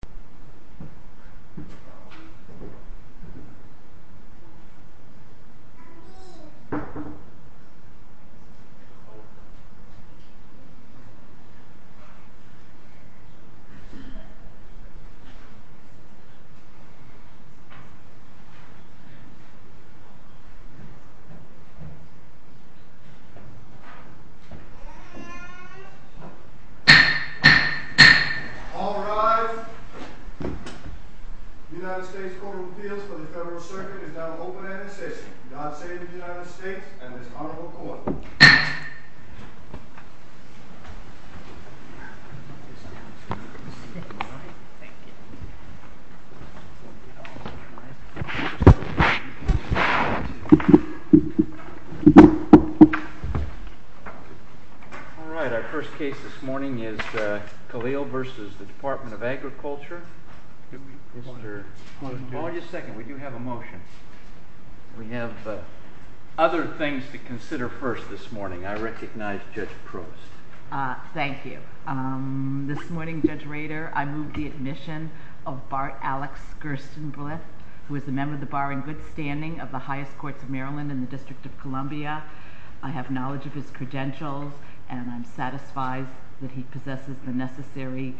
HI. The United States Court of Appeals for the Federal Circuit is now open and in session. God save the United States and this honorable court. All right, our first case this morning is Khalil versus the Department of Agriculture. Hold on just a second. We do have a motion. We have other things to consider first this morning. I recognize Judge Proust. Thank you. This morning, Judge Rader, I move the admission of Bart Alex Gerstenblith, who is a member of the bar in good standing of the highest courts of Maryland in the District of Columbia. I have knowledge of his credentials and I'm satisfied that he possesses the necessary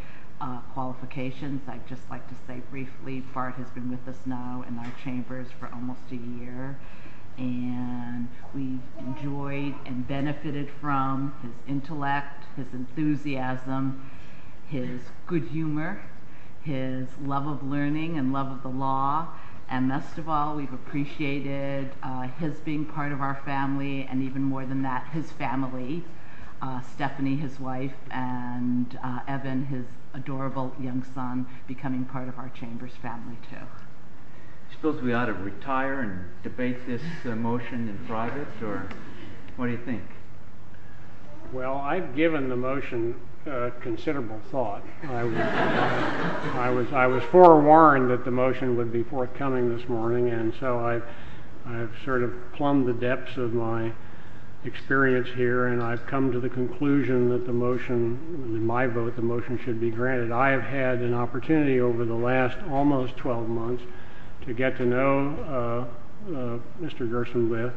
qualifications. I'd just like to say briefly, Bart has been with us now in our chambers for almost a year and we've enjoyed and benefited from his intellect, his enthusiasm, his good humor, his love of learning and love of the law. And best of all, we've appreciated his being part of our family and even more than that, his family. Stephanie, his wife, and Evan, his adorable young son, becoming part of our chamber's family too. Do you suppose we ought to retire and debate this motion in private or what do you think? Well, I've given the motion considerable thought. I was forewarned that the motion would be forthcoming this morning and so I've sort of plumbed the depths of my experience here and I've come to the conclusion that the motion, in my vote, the motion should be granted. I have had an opportunity over the last almost 12 months to get to know Mr. Gerstenblith,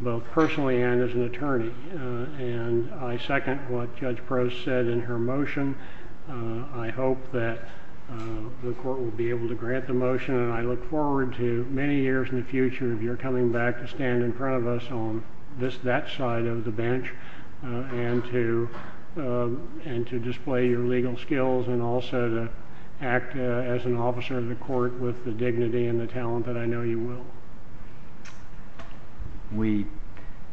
both personally and as an attorney, and I second what Judge Proust said in her motion. I hope that the court will be able to grant the motion and I look forward to many years in the future, if you're coming back, to stand in front of us on that side of the bench and to display your legal skills and also to act as an officer of the court with the dignity and the talent that I know you will. We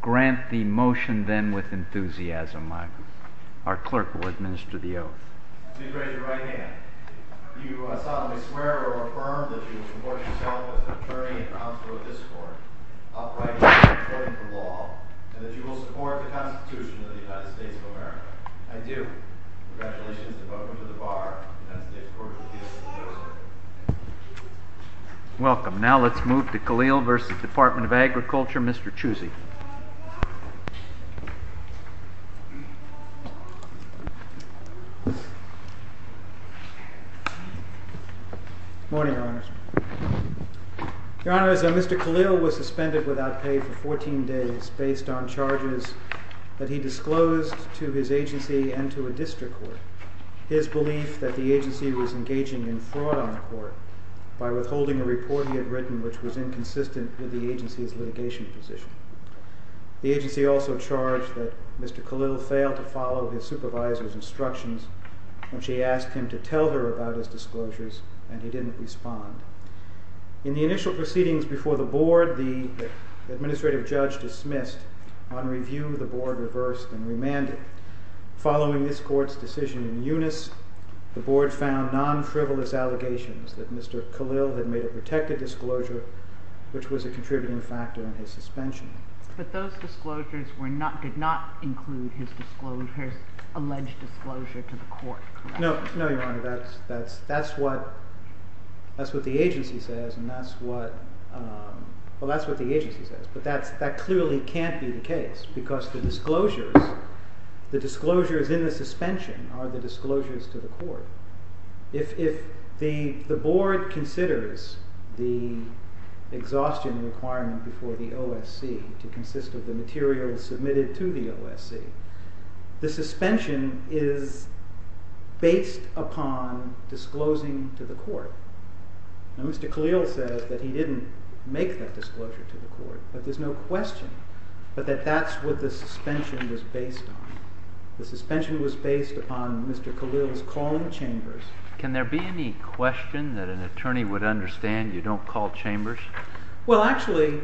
grant the motion then with enthusiasm. Our clerk will administer the oath. Please raise your right hand. Do you solemnly swear or affirm that you will support yourself as an attorney and counsel of this court, upright and impartial to the law, and that you will support the Constitution of the United States of America? I do. Congratulations to both of you to the bar and to the United States Court of Appeals. Welcome. Now let's move to Khalil v. Department of Agriculture, Mr. Chusey. Good morning, Your Honors. Your Honors, Mr. Khalil was suspended without pay for 14 days based on charges that he disclosed to his agency and to a district court his belief that the agency was engaging in fraud on the court by withholding a report he had written which was inconsistent with the agency's litigation position. The agency also charged that Mr. Khalil failed to follow his supervisor's instructions when she asked him to tell her about his disclosures and he didn't respond. In the initial proceedings before the board, the administrative judge dismissed. On review, the board reversed and remanded. Following this court's decision in unis, the board found non-frivolous allegations that Mr. Khalil had made a protected disclosure which was a contributing factor in his suspension. But those disclosures did not include his alleged disclosure to the court, correct? No, Your Honor. That's what the agency says, but that clearly can't be the case because the disclosures in the suspension are the disclosures to the court. If the board considers the exhaustion requirement before the OSC to consist of the materials submitted to the OSC, the suspension is based upon disclosing to the court. Now Mr. Khalil says that he didn't make that disclosure to the court, but there's no question that that's what the suspension was based on. The suspension was based upon Mr. Khalil's calling chambers. Can there be any question that an attorney would understand you don't call chambers? Well, actually,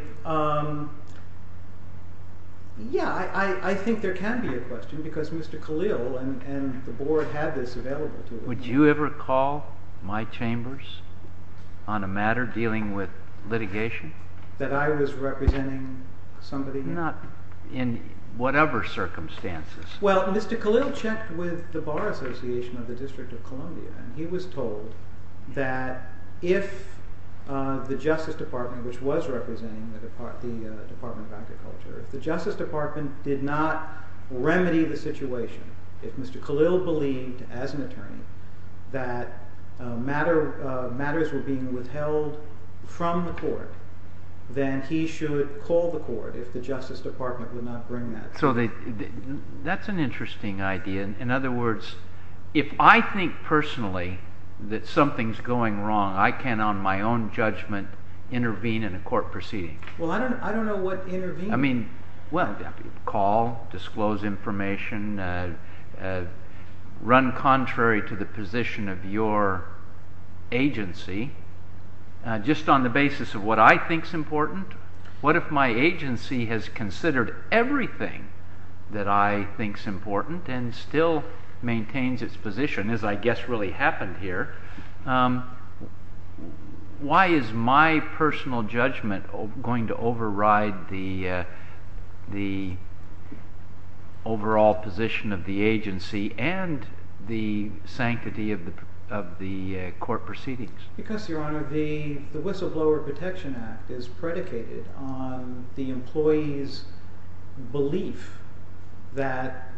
yeah, I think there can be a question because Mr. Khalil and the board have this available to them. Would you ever call my chambers on a matter dealing with litigation? That I was representing somebody? Not in whatever circumstances. Well, Mr. Khalil checked with the Bar Association of the District of Columbia, and he was told that if the Justice Department, which was representing the Department of Agriculture, if the Justice Department did not remedy the situation, if Mr. Khalil believed as an attorney that matters were being withheld from the court, then he should call the court if the Justice Department would not bring that. So that's an interesting idea. In other words, if I think personally that something's going wrong, I can, on my own judgment, intervene in a court proceeding. Well, I don't know what intervening means. I mean, well, call, disclose information, run contrary to the position of your agency. Just on the basis of what I think's important, what if my agency has considered everything that I think's important and still maintains its position, as I guess really happened here? Why is my personal judgment going to override the overall position of the agency and the sanctity of the court proceedings? Because, Your Honor, the Whistleblower Protection Act is predicated on the employee's belief that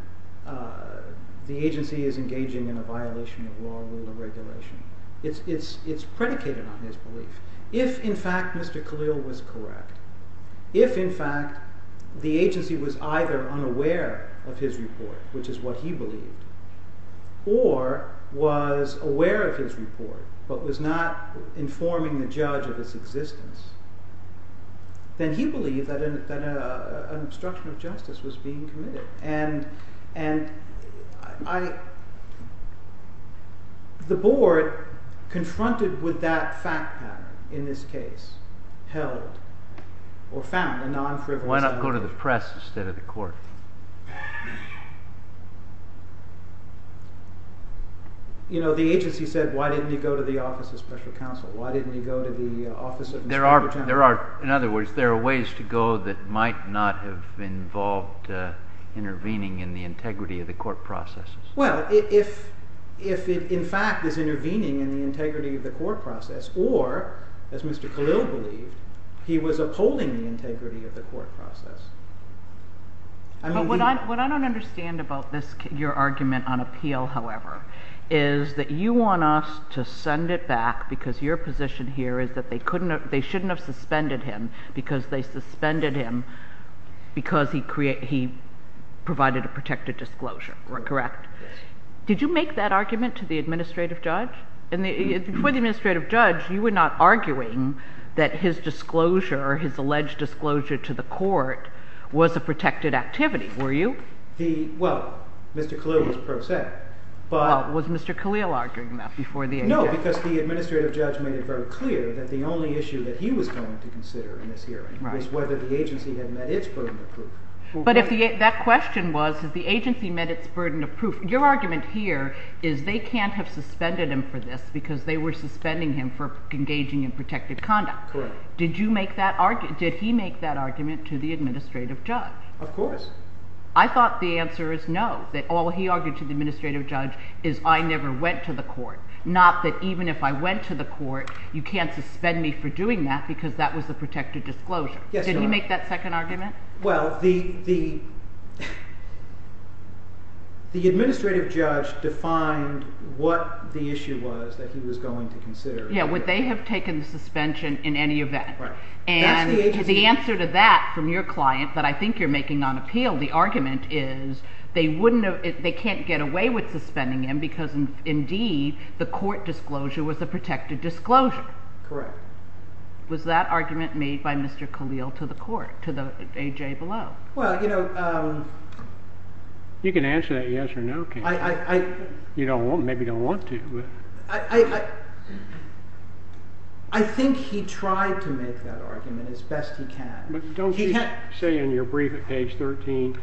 the agency is engaging in a violation of law, rule, and regulation. It's predicated on his belief. If, in fact, Mr. Khalil was correct, if, in fact, the agency was either unaware of his report, which is what he believed, or was aware of his report, but was not informing the judge of its existence, then he believed that an obstruction of justice was being committed. And the board, confronted with that fact pattern in this case, held or found a non-frivolous opinion. Why didn't he go to the press instead of the court? You know, the agency said, why didn't he go to the office of special counsel? Why didn't he go to the office of Mr. General? In other words, there are ways to go that might not have involved intervening in the integrity of the court processes. Well, if it, in fact, is intervening in the integrity of the court process, or, as Mr. Khalil believed, he was upholding the integrity of the court process. What I don't understand about your argument on appeal, however, is that you want us to send it back because your position here is that they shouldn't have suspended him because they suspended him because he provided a protected disclosure, correct? Did you make that argument to the administrative judge? Before the administrative judge, you were not arguing that his disclosure, his alleged disclosure to the court, was a protected activity, were you? Well, Mr. Khalil was pro se. Well, was Mr. Khalil arguing that before the agency? No, because the administrative judge made it very clear that the only issue that he was going to consider in this hearing was whether the agency had met its burden of proof. Your argument here is they can't have suspended him for this because they were suspending him for engaging in protected conduct. Correct. Did he make that argument to the administrative judge? Of course. I thought the answer is no, that all he argued to the administrative judge is, I never went to the court, not that even if I went to the court, you can't suspend me for doing that because that was a protected disclosure. Yes, Your Honor. Did he make that second argument? Well, the administrative judge defined what the issue was that he was going to consider. Yes, would they have taken the suspension in any event? Right. And the answer to that from your client that I think you're making on appeal, the argument is they can't get away with suspending him because, indeed, the court disclosure was a protected disclosure. Correct. Was that argument made by Mr. Khalil to the court, to the A.J. Below? Well, you know— You can answer that yes or no, Katie. I— Maybe you don't want to. I think he tried to make that argument as best he can. But don't you say in your brief at page 13,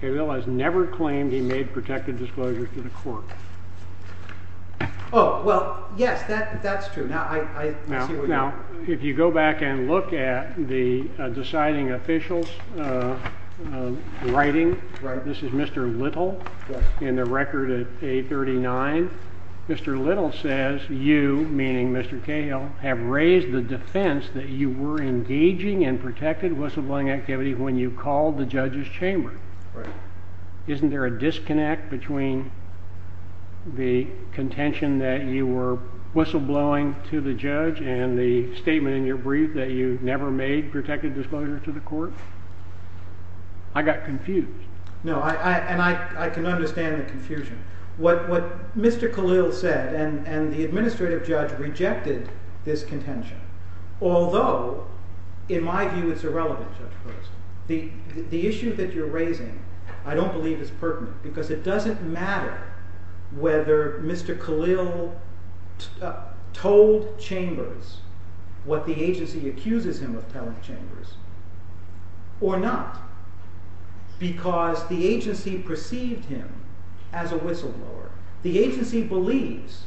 Khalil has never claimed he made protected disclosures to the court. Oh, well, yes, that's true. Now, if you go back and look at the deciding official's writing— Right. This is Mr. Little in the record at 839. Mr. Little says you, meaning Mr. Khalil, have raised the defense that you were engaging in protected whistleblowing activity when you called the judge's chamber. Right. Isn't there a disconnect between the contention that you were whistleblowing to the judge and the statement in your brief that you never made protected disclosure to the court? I got confused. No, and I can understand the confusion. What Mr. Khalil said, and the administrative judge rejected this contention, although, in my view, it's irrelevant, Judge Post. The issue that you're raising I don't believe is pertinent because it doesn't matter whether Mr. Khalil told chambers what the agency accuses him of telling chambers or not because the agency perceived him as a whistleblower. The agency believes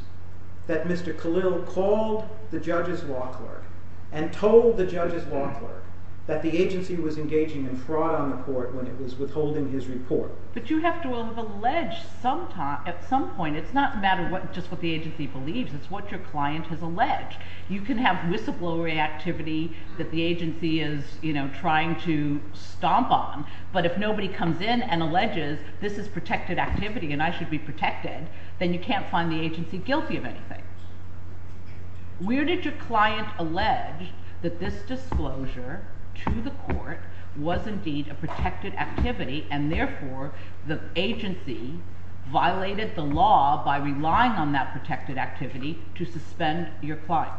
that Mr. Khalil called the judge's law clerk and told the judge's law clerk that the agency was engaging in fraud on the court when it was withholding his report. But you have to have alleged at some point. It's not a matter of just what the agency believes. It's what your client has alleged. You can have whistleblower activity that the agency is trying to stomp on, but if nobody comes in and alleges this is protected activity and I should be protected, then you can't find the agency guilty of anything. Where did your client allege that this disclosure to the court was indeed a protected activity and therefore the agency violated the law by relying on that protected activity to suspend your client?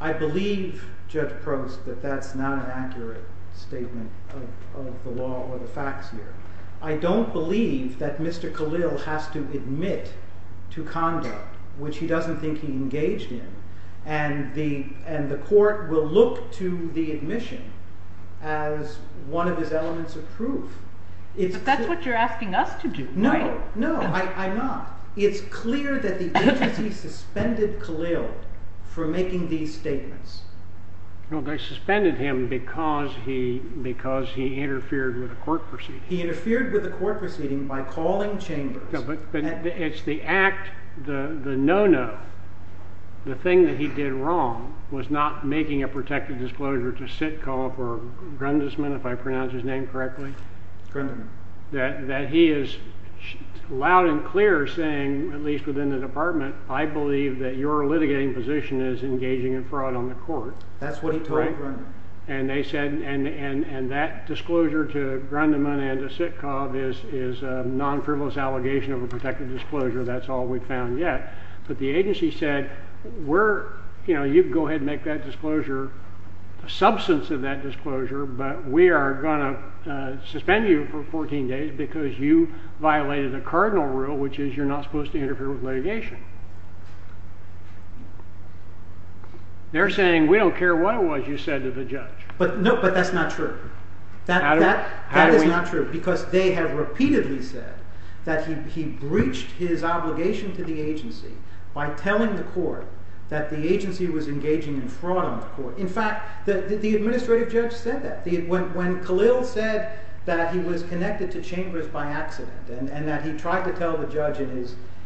I believe, Judge Post, that that's not an accurate statement of the law or the facts here. I don't believe that Mr. Khalil has to admit to conduct which he doesn't think he engaged in and the court will look to the admission as one of his elements of proof. But that's what you're asking us to do, right? No, I'm not. It's clear that the agency suspended Khalil for making these statements. They suspended him because he interfered with a court proceeding. He interfered with a court proceeding by calling chambers. But it's the act, the no-no, the thing that he did wrong was not making a protected disclosure to sit call for Grundisman, if I pronounce his name correctly. Grundiman. That he is loud and clear saying, at least within the department, I believe that your litigating position is engaging in fraud on the court. That's what he told Grundiman. And that disclosure to Grundiman and to Sitkov is a non-frivolous allegation of a protected disclosure. That's all we've found yet. But the agency said, you can go ahead and make that disclosure, a substance of that disclosure, but we are going to suspend you for 14 days because you violated the cardinal rule, which is you're not supposed to interfere with litigation. They're saying, we don't care what it was you said to the judge. But that's not true. That is not true because they have repeatedly said that he breached his obligation to the agency by telling the court that the agency was engaging in fraud on the court. In fact, the administrative judge said that. When Khalil said that he was connected to chambers by accident and that he tried to tell the judge in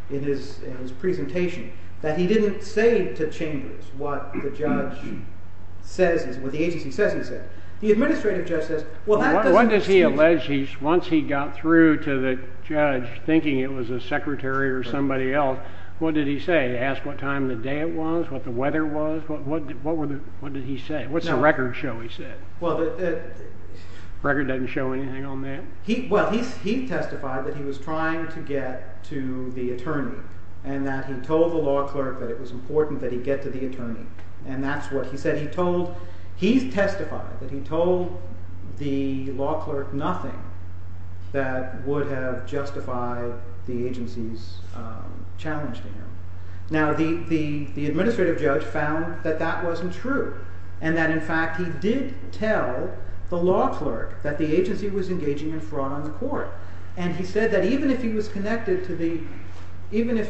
his presentation that he didn't say to chambers what the judge says, what the agency says he said. The administrative judge says, well, that doesn't excuse it. What does he allege once he got through to the judge thinking it was a secretary or somebody else? What did he say? Ask what time of the day it was? What the weather was? What did he say? What's the record show he said? The record doesn't show anything on that? He testified that he was trying to get to the attorney and that he told the law clerk that it was important that he get to the attorney. And that's what he said. He testified that he told the law clerk nothing that would have justified the agency's challenge to him. Now, the administrative judge found that that wasn't true and that, in fact, he did tell the law clerk that the agency was engaging in fraud on the court. And he said that even if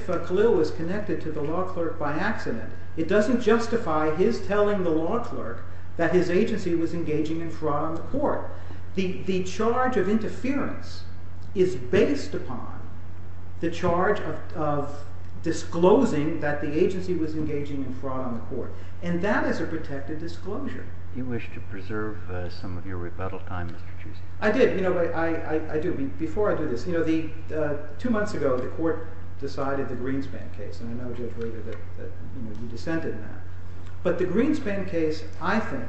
Khalil was connected to the law clerk by accident, it doesn't justify his telling the law clerk that his agency was engaging in fraud on the court. The charge of interference is based upon the charge of disclosing that the agency was engaging in fraud on the court. And that is a protected disclosure. You wish to preserve some of your rebuttal time, Mr. Chiu. I did. You know, I do. Before I do this, you know, two months ago the court decided the Greenspan case. And I know Judge Rager that you dissented in that. But the Greenspan case, I think,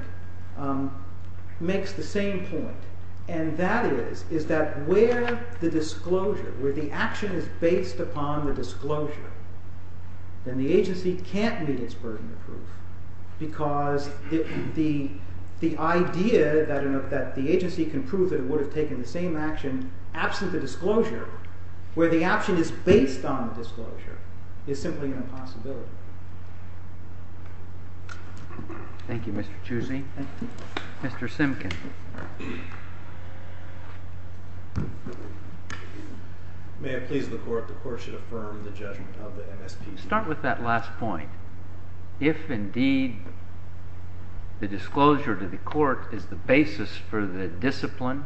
makes the same point. And that is that where the disclosure, where the action is based upon the disclosure, then the agency can't meet its burden of proof. Because the idea that the agency can prove that it would have taken the same action absent the disclosure, where the action is based on the disclosure, is simply an impossibility. Thank you, Mr. Chiu. Thank you. Mr. Simkin. May it please the court, the court should affirm the judgment of the MSP. Start with that last point. If, indeed, the disclosure to the court is the basis for the discipline,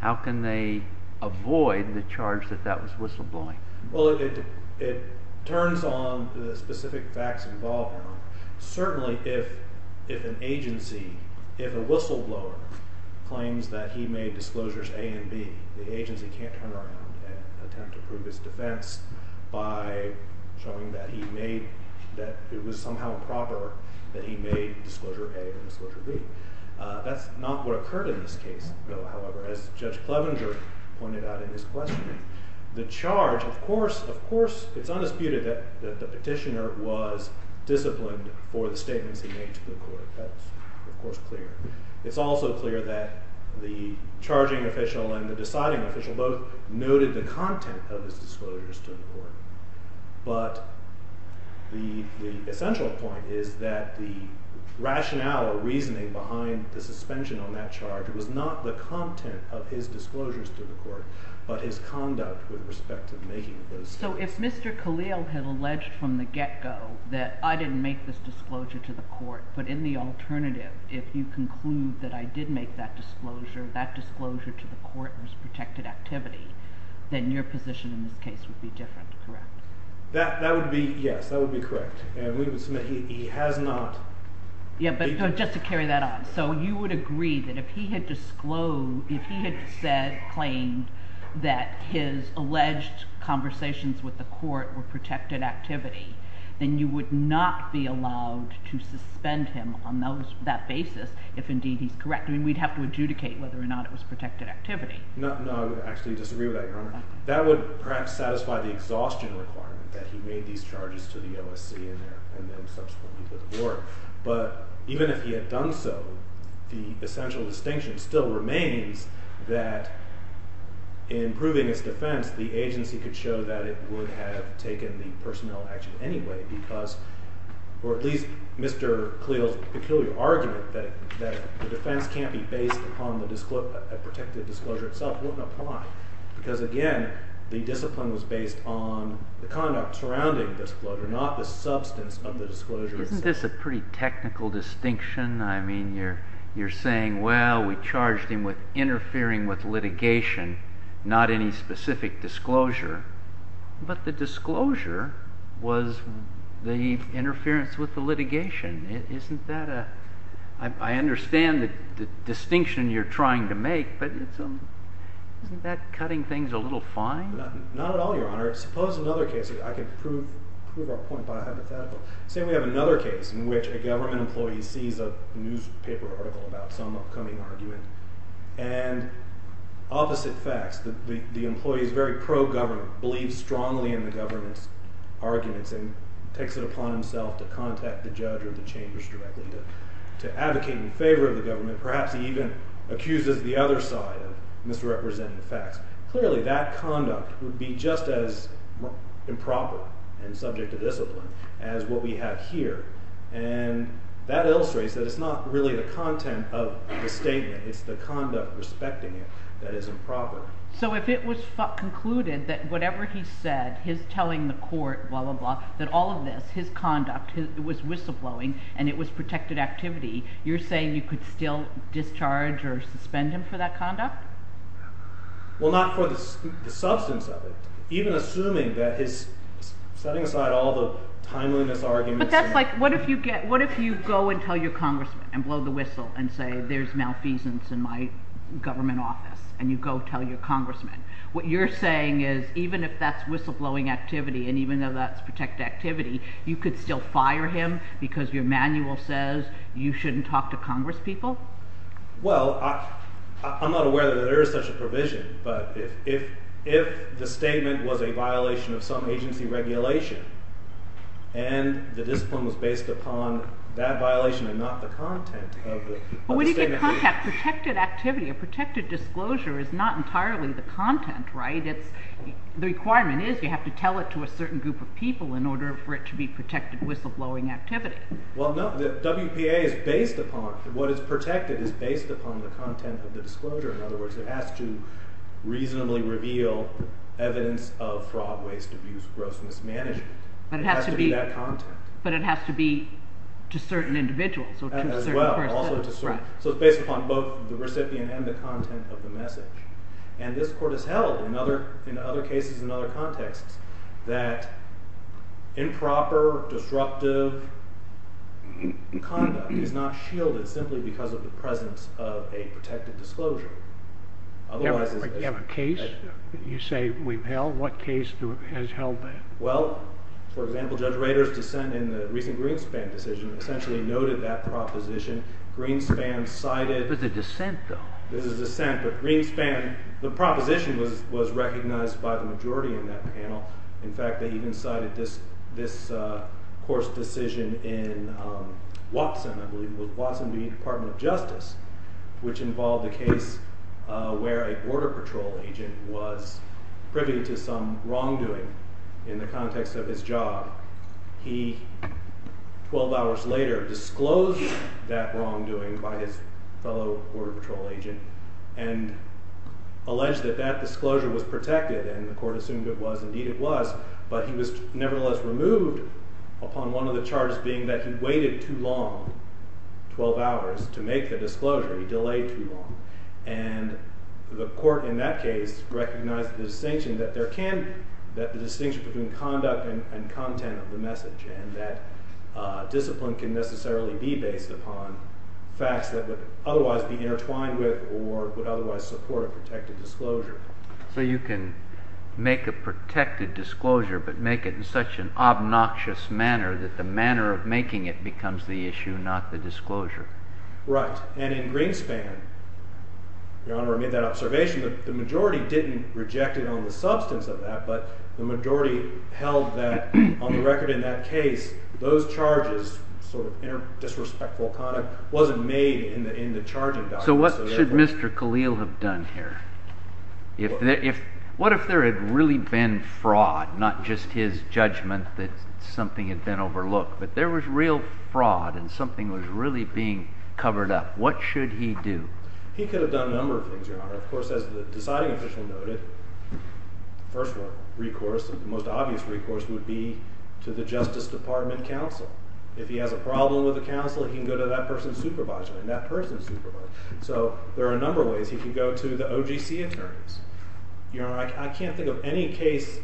how can they avoid the charge that that was whistleblowing? Well, it turns on the specific facts involved in it. Certainly, if an agency, if a whistleblower claims that he made disclosures A and B, the agency can't turn around and attempt to prove his defense by showing that he made, that it was somehow improper that he made disclosure A and disclosure B. That's not what occurred in this case, though, however, as Judge Clevenger pointed out in his questioning. The charge, of course, it's undisputed that the petitioner was disciplined for the statements he made to the court. That's, of course, clear. It's also clear that the charging official and the deciding official both noted the content of his disclosures to the court. But the essential point is that the rationale or reasoning behind the suspension on that charge was not the content of his disclosures to the court, but his conduct with respect to making those statements. So if Mr. Khalil had alleged from the get-go that I didn't make this disclosure to the court, but in the alternative, if you conclude that I did make that disclosure, that disclosure to the court was protected activity, then your position in this case would be different, correct? That would be, yes, that would be correct. And we would submit he has not. Yeah, but just to carry that on. So you would agree that if he had disclosed, if he had claimed that his alleged conversations with the court were protected activity, then you would not be allowed to suspend him on that basis if, indeed, he's correct. I mean, we'd have to adjudicate whether or not it was protected activity. No, no, I would actually disagree with that, Your Honor. That would perhaps satisfy the exhaustion requirement that he made these charges to the OSC and then subsequently to the court. But even if he had done so, the essential distinction still remains that in proving his defense, the agency could show that it would have taken the personnel action anyway because – or at least Mr. Khalil's peculiar argument that the defense can't be based upon a protected disclosure itself wouldn't apply. Because, again, the discipline was based on the conduct surrounding the disclosure, not the substance of the disclosure itself. Isn't this a pretty technical distinction? I mean, you're saying, well, we charged him with interfering with litigation, not any specific disclosure. But the disclosure was the interference with the litigation. Isn't that a – I understand the distinction you're trying to make, but isn't that cutting things a little fine? Not at all, Your Honor. Suppose another case – I can prove our point by hypothetical. Say we have another case in which a government employee sees a newspaper article about some upcoming argument and opposite facts, the employee is very pro-government, believes strongly in the government's arguments and takes it upon himself to contact the judge or the chambers directly to advocate in favor of the government. Perhaps he even accuses the other side of misrepresenting the facts. Clearly, that conduct would be just as improper and subject to discipline as what we have here. And that illustrates that it's not really the content of the statement. It's the conduct respecting it that is improper. So if it was concluded that whatever he said, his telling the court, blah, blah, blah, that all of this, his conduct, it was whistleblowing and it was protected activity, you're saying you could still discharge or suspend him for that conduct? Well, not for the substance of it. Even assuming that he's setting aside all the timeliness arguments. But that's like what if you go and tell your congressman and blow the whistle and say there's malfeasance in my government office and you go tell your congressman? What you're saying is even if that's whistleblowing activity and even though that's protected activity, you could still fire him because your manual says you shouldn't talk to congresspeople? Well, I'm not aware that there is such a provision, but if the statement was a violation of some agency regulation and the discipline was based upon that violation and not the content of the statement. But when you get contact, protected activity, a protected disclosure is not entirely the content, right? The requirement is you have to tell it to a certain group of people in order for it to be protected whistleblowing activity. Well, no. The WPA is based upon, what is protected is based upon the content of the disclosure. In other words, it has to reasonably reveal evidence of fraud, waste, abuse, gross mismanagement. But it has to be that content. But it has to be to certain individuals. As well. Also to certain. So it's based upon both the recipient and the content of the message. And this court has held in other cases and other contexts that improper, destructive conduct is not shielded simply because of the presence of a protected disclosure. You have a case? You say we've held? What case has held that? Well, for example, Judge Rader's dissent in the recent Greenspan decision essentially noted that proposition. Greenspan cited. This is a dissent, though. This is a dissent, but Greenspan, the proposition was recognized by the majority in that panel. In fact, they even cited this court's decision in Watson, I believe. Watson v. Department of Justice, which involved a case where a border patrol agent was privy to some wrongdoing in the context of his job. He, 12 hours later, disclosed that wrongdoing by his fellow border patrol agent and alleged that that disclosure was protected. And the court assumed it was. Indeed it was. But he was nevertheless removed upon one of the charges being that he waited too long, 12 hours, to make the disclosure. He delayed too long. And the court in that case recognized the distinction between conduct and content of the message and that discipline can necessarily be based upon facts that would otherwise be intertwined with or would otherwise support a protected disclosure. So you can make a protected disclosure, but make it in such an obnoxious manner that the manner of making it becomes the issue, not the disclosure. Right. And in Greenspan, Your Honor, I made that observation. The majority didn't reject it on the substance of that, but the majority held that on the record in that case, those charges, sort of disrespectful conduct, wasn't made in the charging document. So what should Mr. Khalil have done here? What if there had really been fraud, not just his judgment that something had been overlooked, but there was real fraud and something was really being covered up, what should he do? He could have done a number of things, Your Honor. Of course, as the deciding official noted, the first recourse, the most obvious recourse, would be to the Justice Department counsel. If he has a problem with the counsel, he can go to that person's supervisor and that person's supervisor. So there are a number of ways he can go to the OGC attorneys. Your Honor, I can't think of any case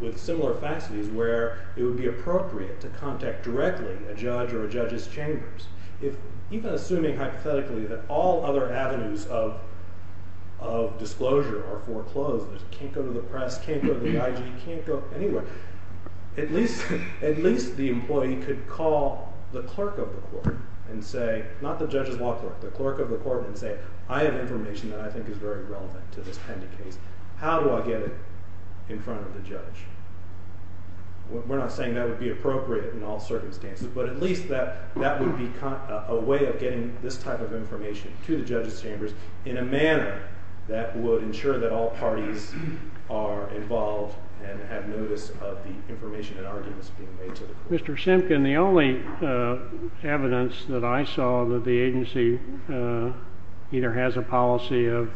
with similar faceties where it would be appropriate to contact directly a judge or a judge's chambers. Even assuming hypothetically that all other avenues of disclosure or foreclosure, can't go to the press, can't go to the IG, can't go anywhere, at least the employee could call the clerk of the court and say, not the judge's law clerk, but the clerk of the court and say, I have information that I think is very relevant to this pending case. How do I get it in front of the judge? We're not saying that would be appropriate in all circumstances, but at least that would be a way of getting this type of information to the judge's chambers in a manner that would ensure that all parties are involved and have notice of the information and arguments being made to the court. Mr. Simpkin, the only evidence that I saw that the agency either has a policy of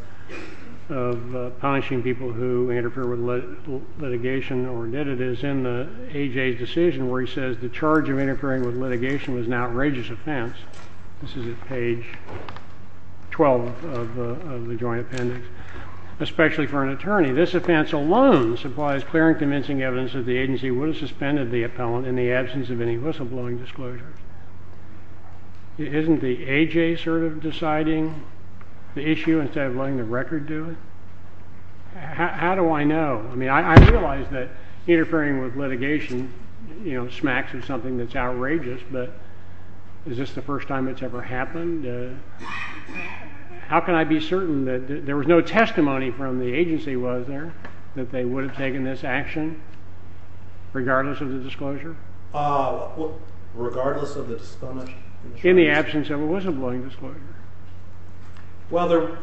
punishing people who interfere with litigation or did it is in the AJ's decision where he says, the charge of interfering with litigation was an outrageous offense. This is at page 12 of the joint appendix. Especially for an attorney, this offense alone supplies clear and convincing evidence that the agency would have suspended the appellant in the absence of any whistleblowing disclosures. Isn't the AJ sort of deciding the issue instead of letting the record do it? How do I know? I mean, I realize that interfering with litigation, you know, smacks of something that's outrageous, but is this the first time it's ever happened? How can I be certain that there was no testimony from the agency, was there, that they would have taken this action regardless of the disclosure? Regardless of the disclosure? In the absence of a whistleblowing disclosure. Well,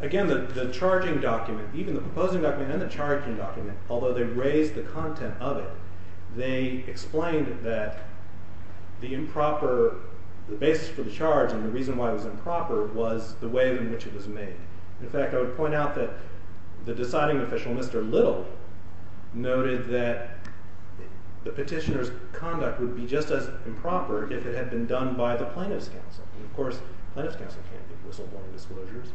again, the charging document, even the proposing document and the charging document, although they raised the content of it, they explained that the improper, the basis for the charge and the reason why it was improper was the way in which it was made. In fact, I would point out that the deciding official, Mr. Little, noted that the petitioner's conduct would be just as improper if it had been done by the plaintiff's counsel. Of course, the plaintiff's counsel can't give whistleblowing disclosures.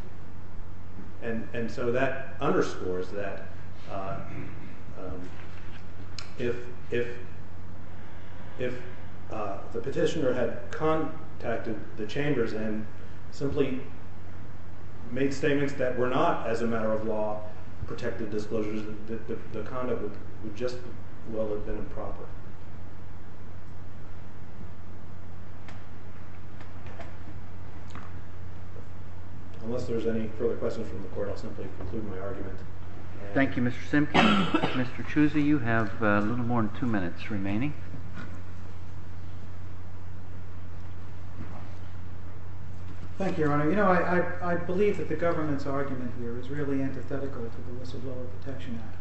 And so that underscores that if the petitioner had contacted the chambers and simply made statements that were not, as a matter of law, protected disclosures, the conduct would just as well have been improper. Unless there's any further questions from the court, I'll simply conclude my argument. Thank you, Mr. Simkin. Mr. Chusi, you have a little more than two minutes remaining. Thank you, Your Honor. You know, I believe that the government's argument here is really antithetical to the Whistleblower Protection Act.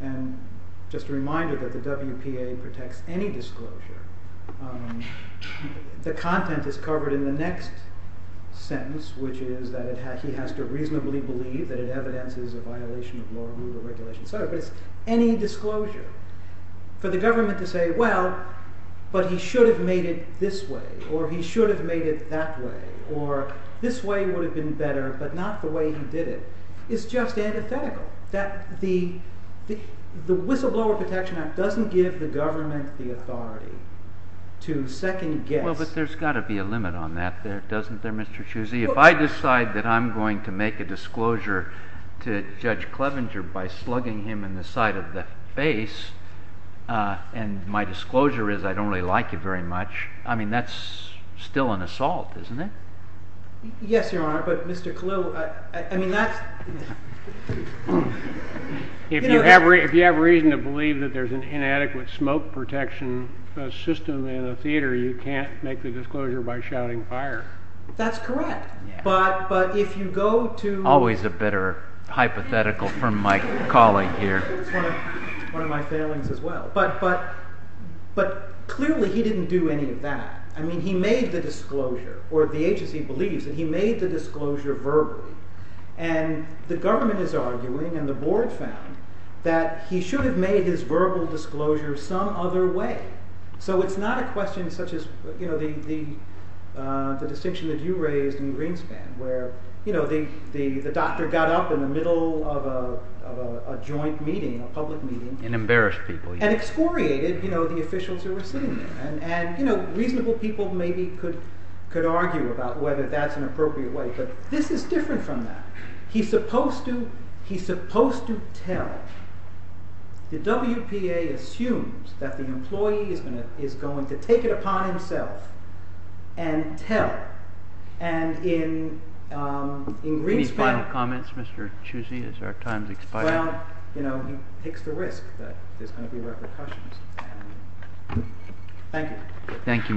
And just a reminder that the WPA protects any disclosure. The content is covered in the next sentence, which is that he has to reasonably believe that it evidences a violation of law, rule, or regulation. So it's any disclosure. For the government to say, well, but he should have made it this way, or he should have made it that way, or this way would have been better, but not the way he did it, is just antithetical. The Whistleblower Protection Act doesn't give the government the authority to second-guess. Well, but there's got to be a limit on that, doesn't there, Mr. Chusi? If I decide that I'm going to make a disclosure to Judge Clevenger by slugging him in the side of the face and my disclosure is I don't really like you very much, I mean, that's still an assault, isn't it? Yes, Your Honor, but Mr. Kalil, I mean, that's— If you have reason to believe that there's an inadequate smoke protection system in a theater, you can't make the disclosure by shouting fire. That's correct, but if you go to— Always a bitter hypothetical from my colleague here. One of my failings as well. But clearly he didn't do any of that. I mean, he made the disclosure, or the agency believes that he made the disclosure verbally, and the government is arguing and the board found that he should have made his verbal disclosure some other way. So it's not a question such as the distinction that you raised in Greenspan, where the doctor got up in the middle of a joint meeting, a public meeting— And embarrassed people. And excoriated the officials who were sitting there. And reasonable people maybe could argue about whether that's an appropriate way, but this is different from that. He's supposed to tell. The WPA assumes that the employee is going to take it upon himself and tell. And in Greenspan— Any final comments, Mr. Chusi, as our time has expired? Well, he takes the risk that there's going to be repercussions. Thank you.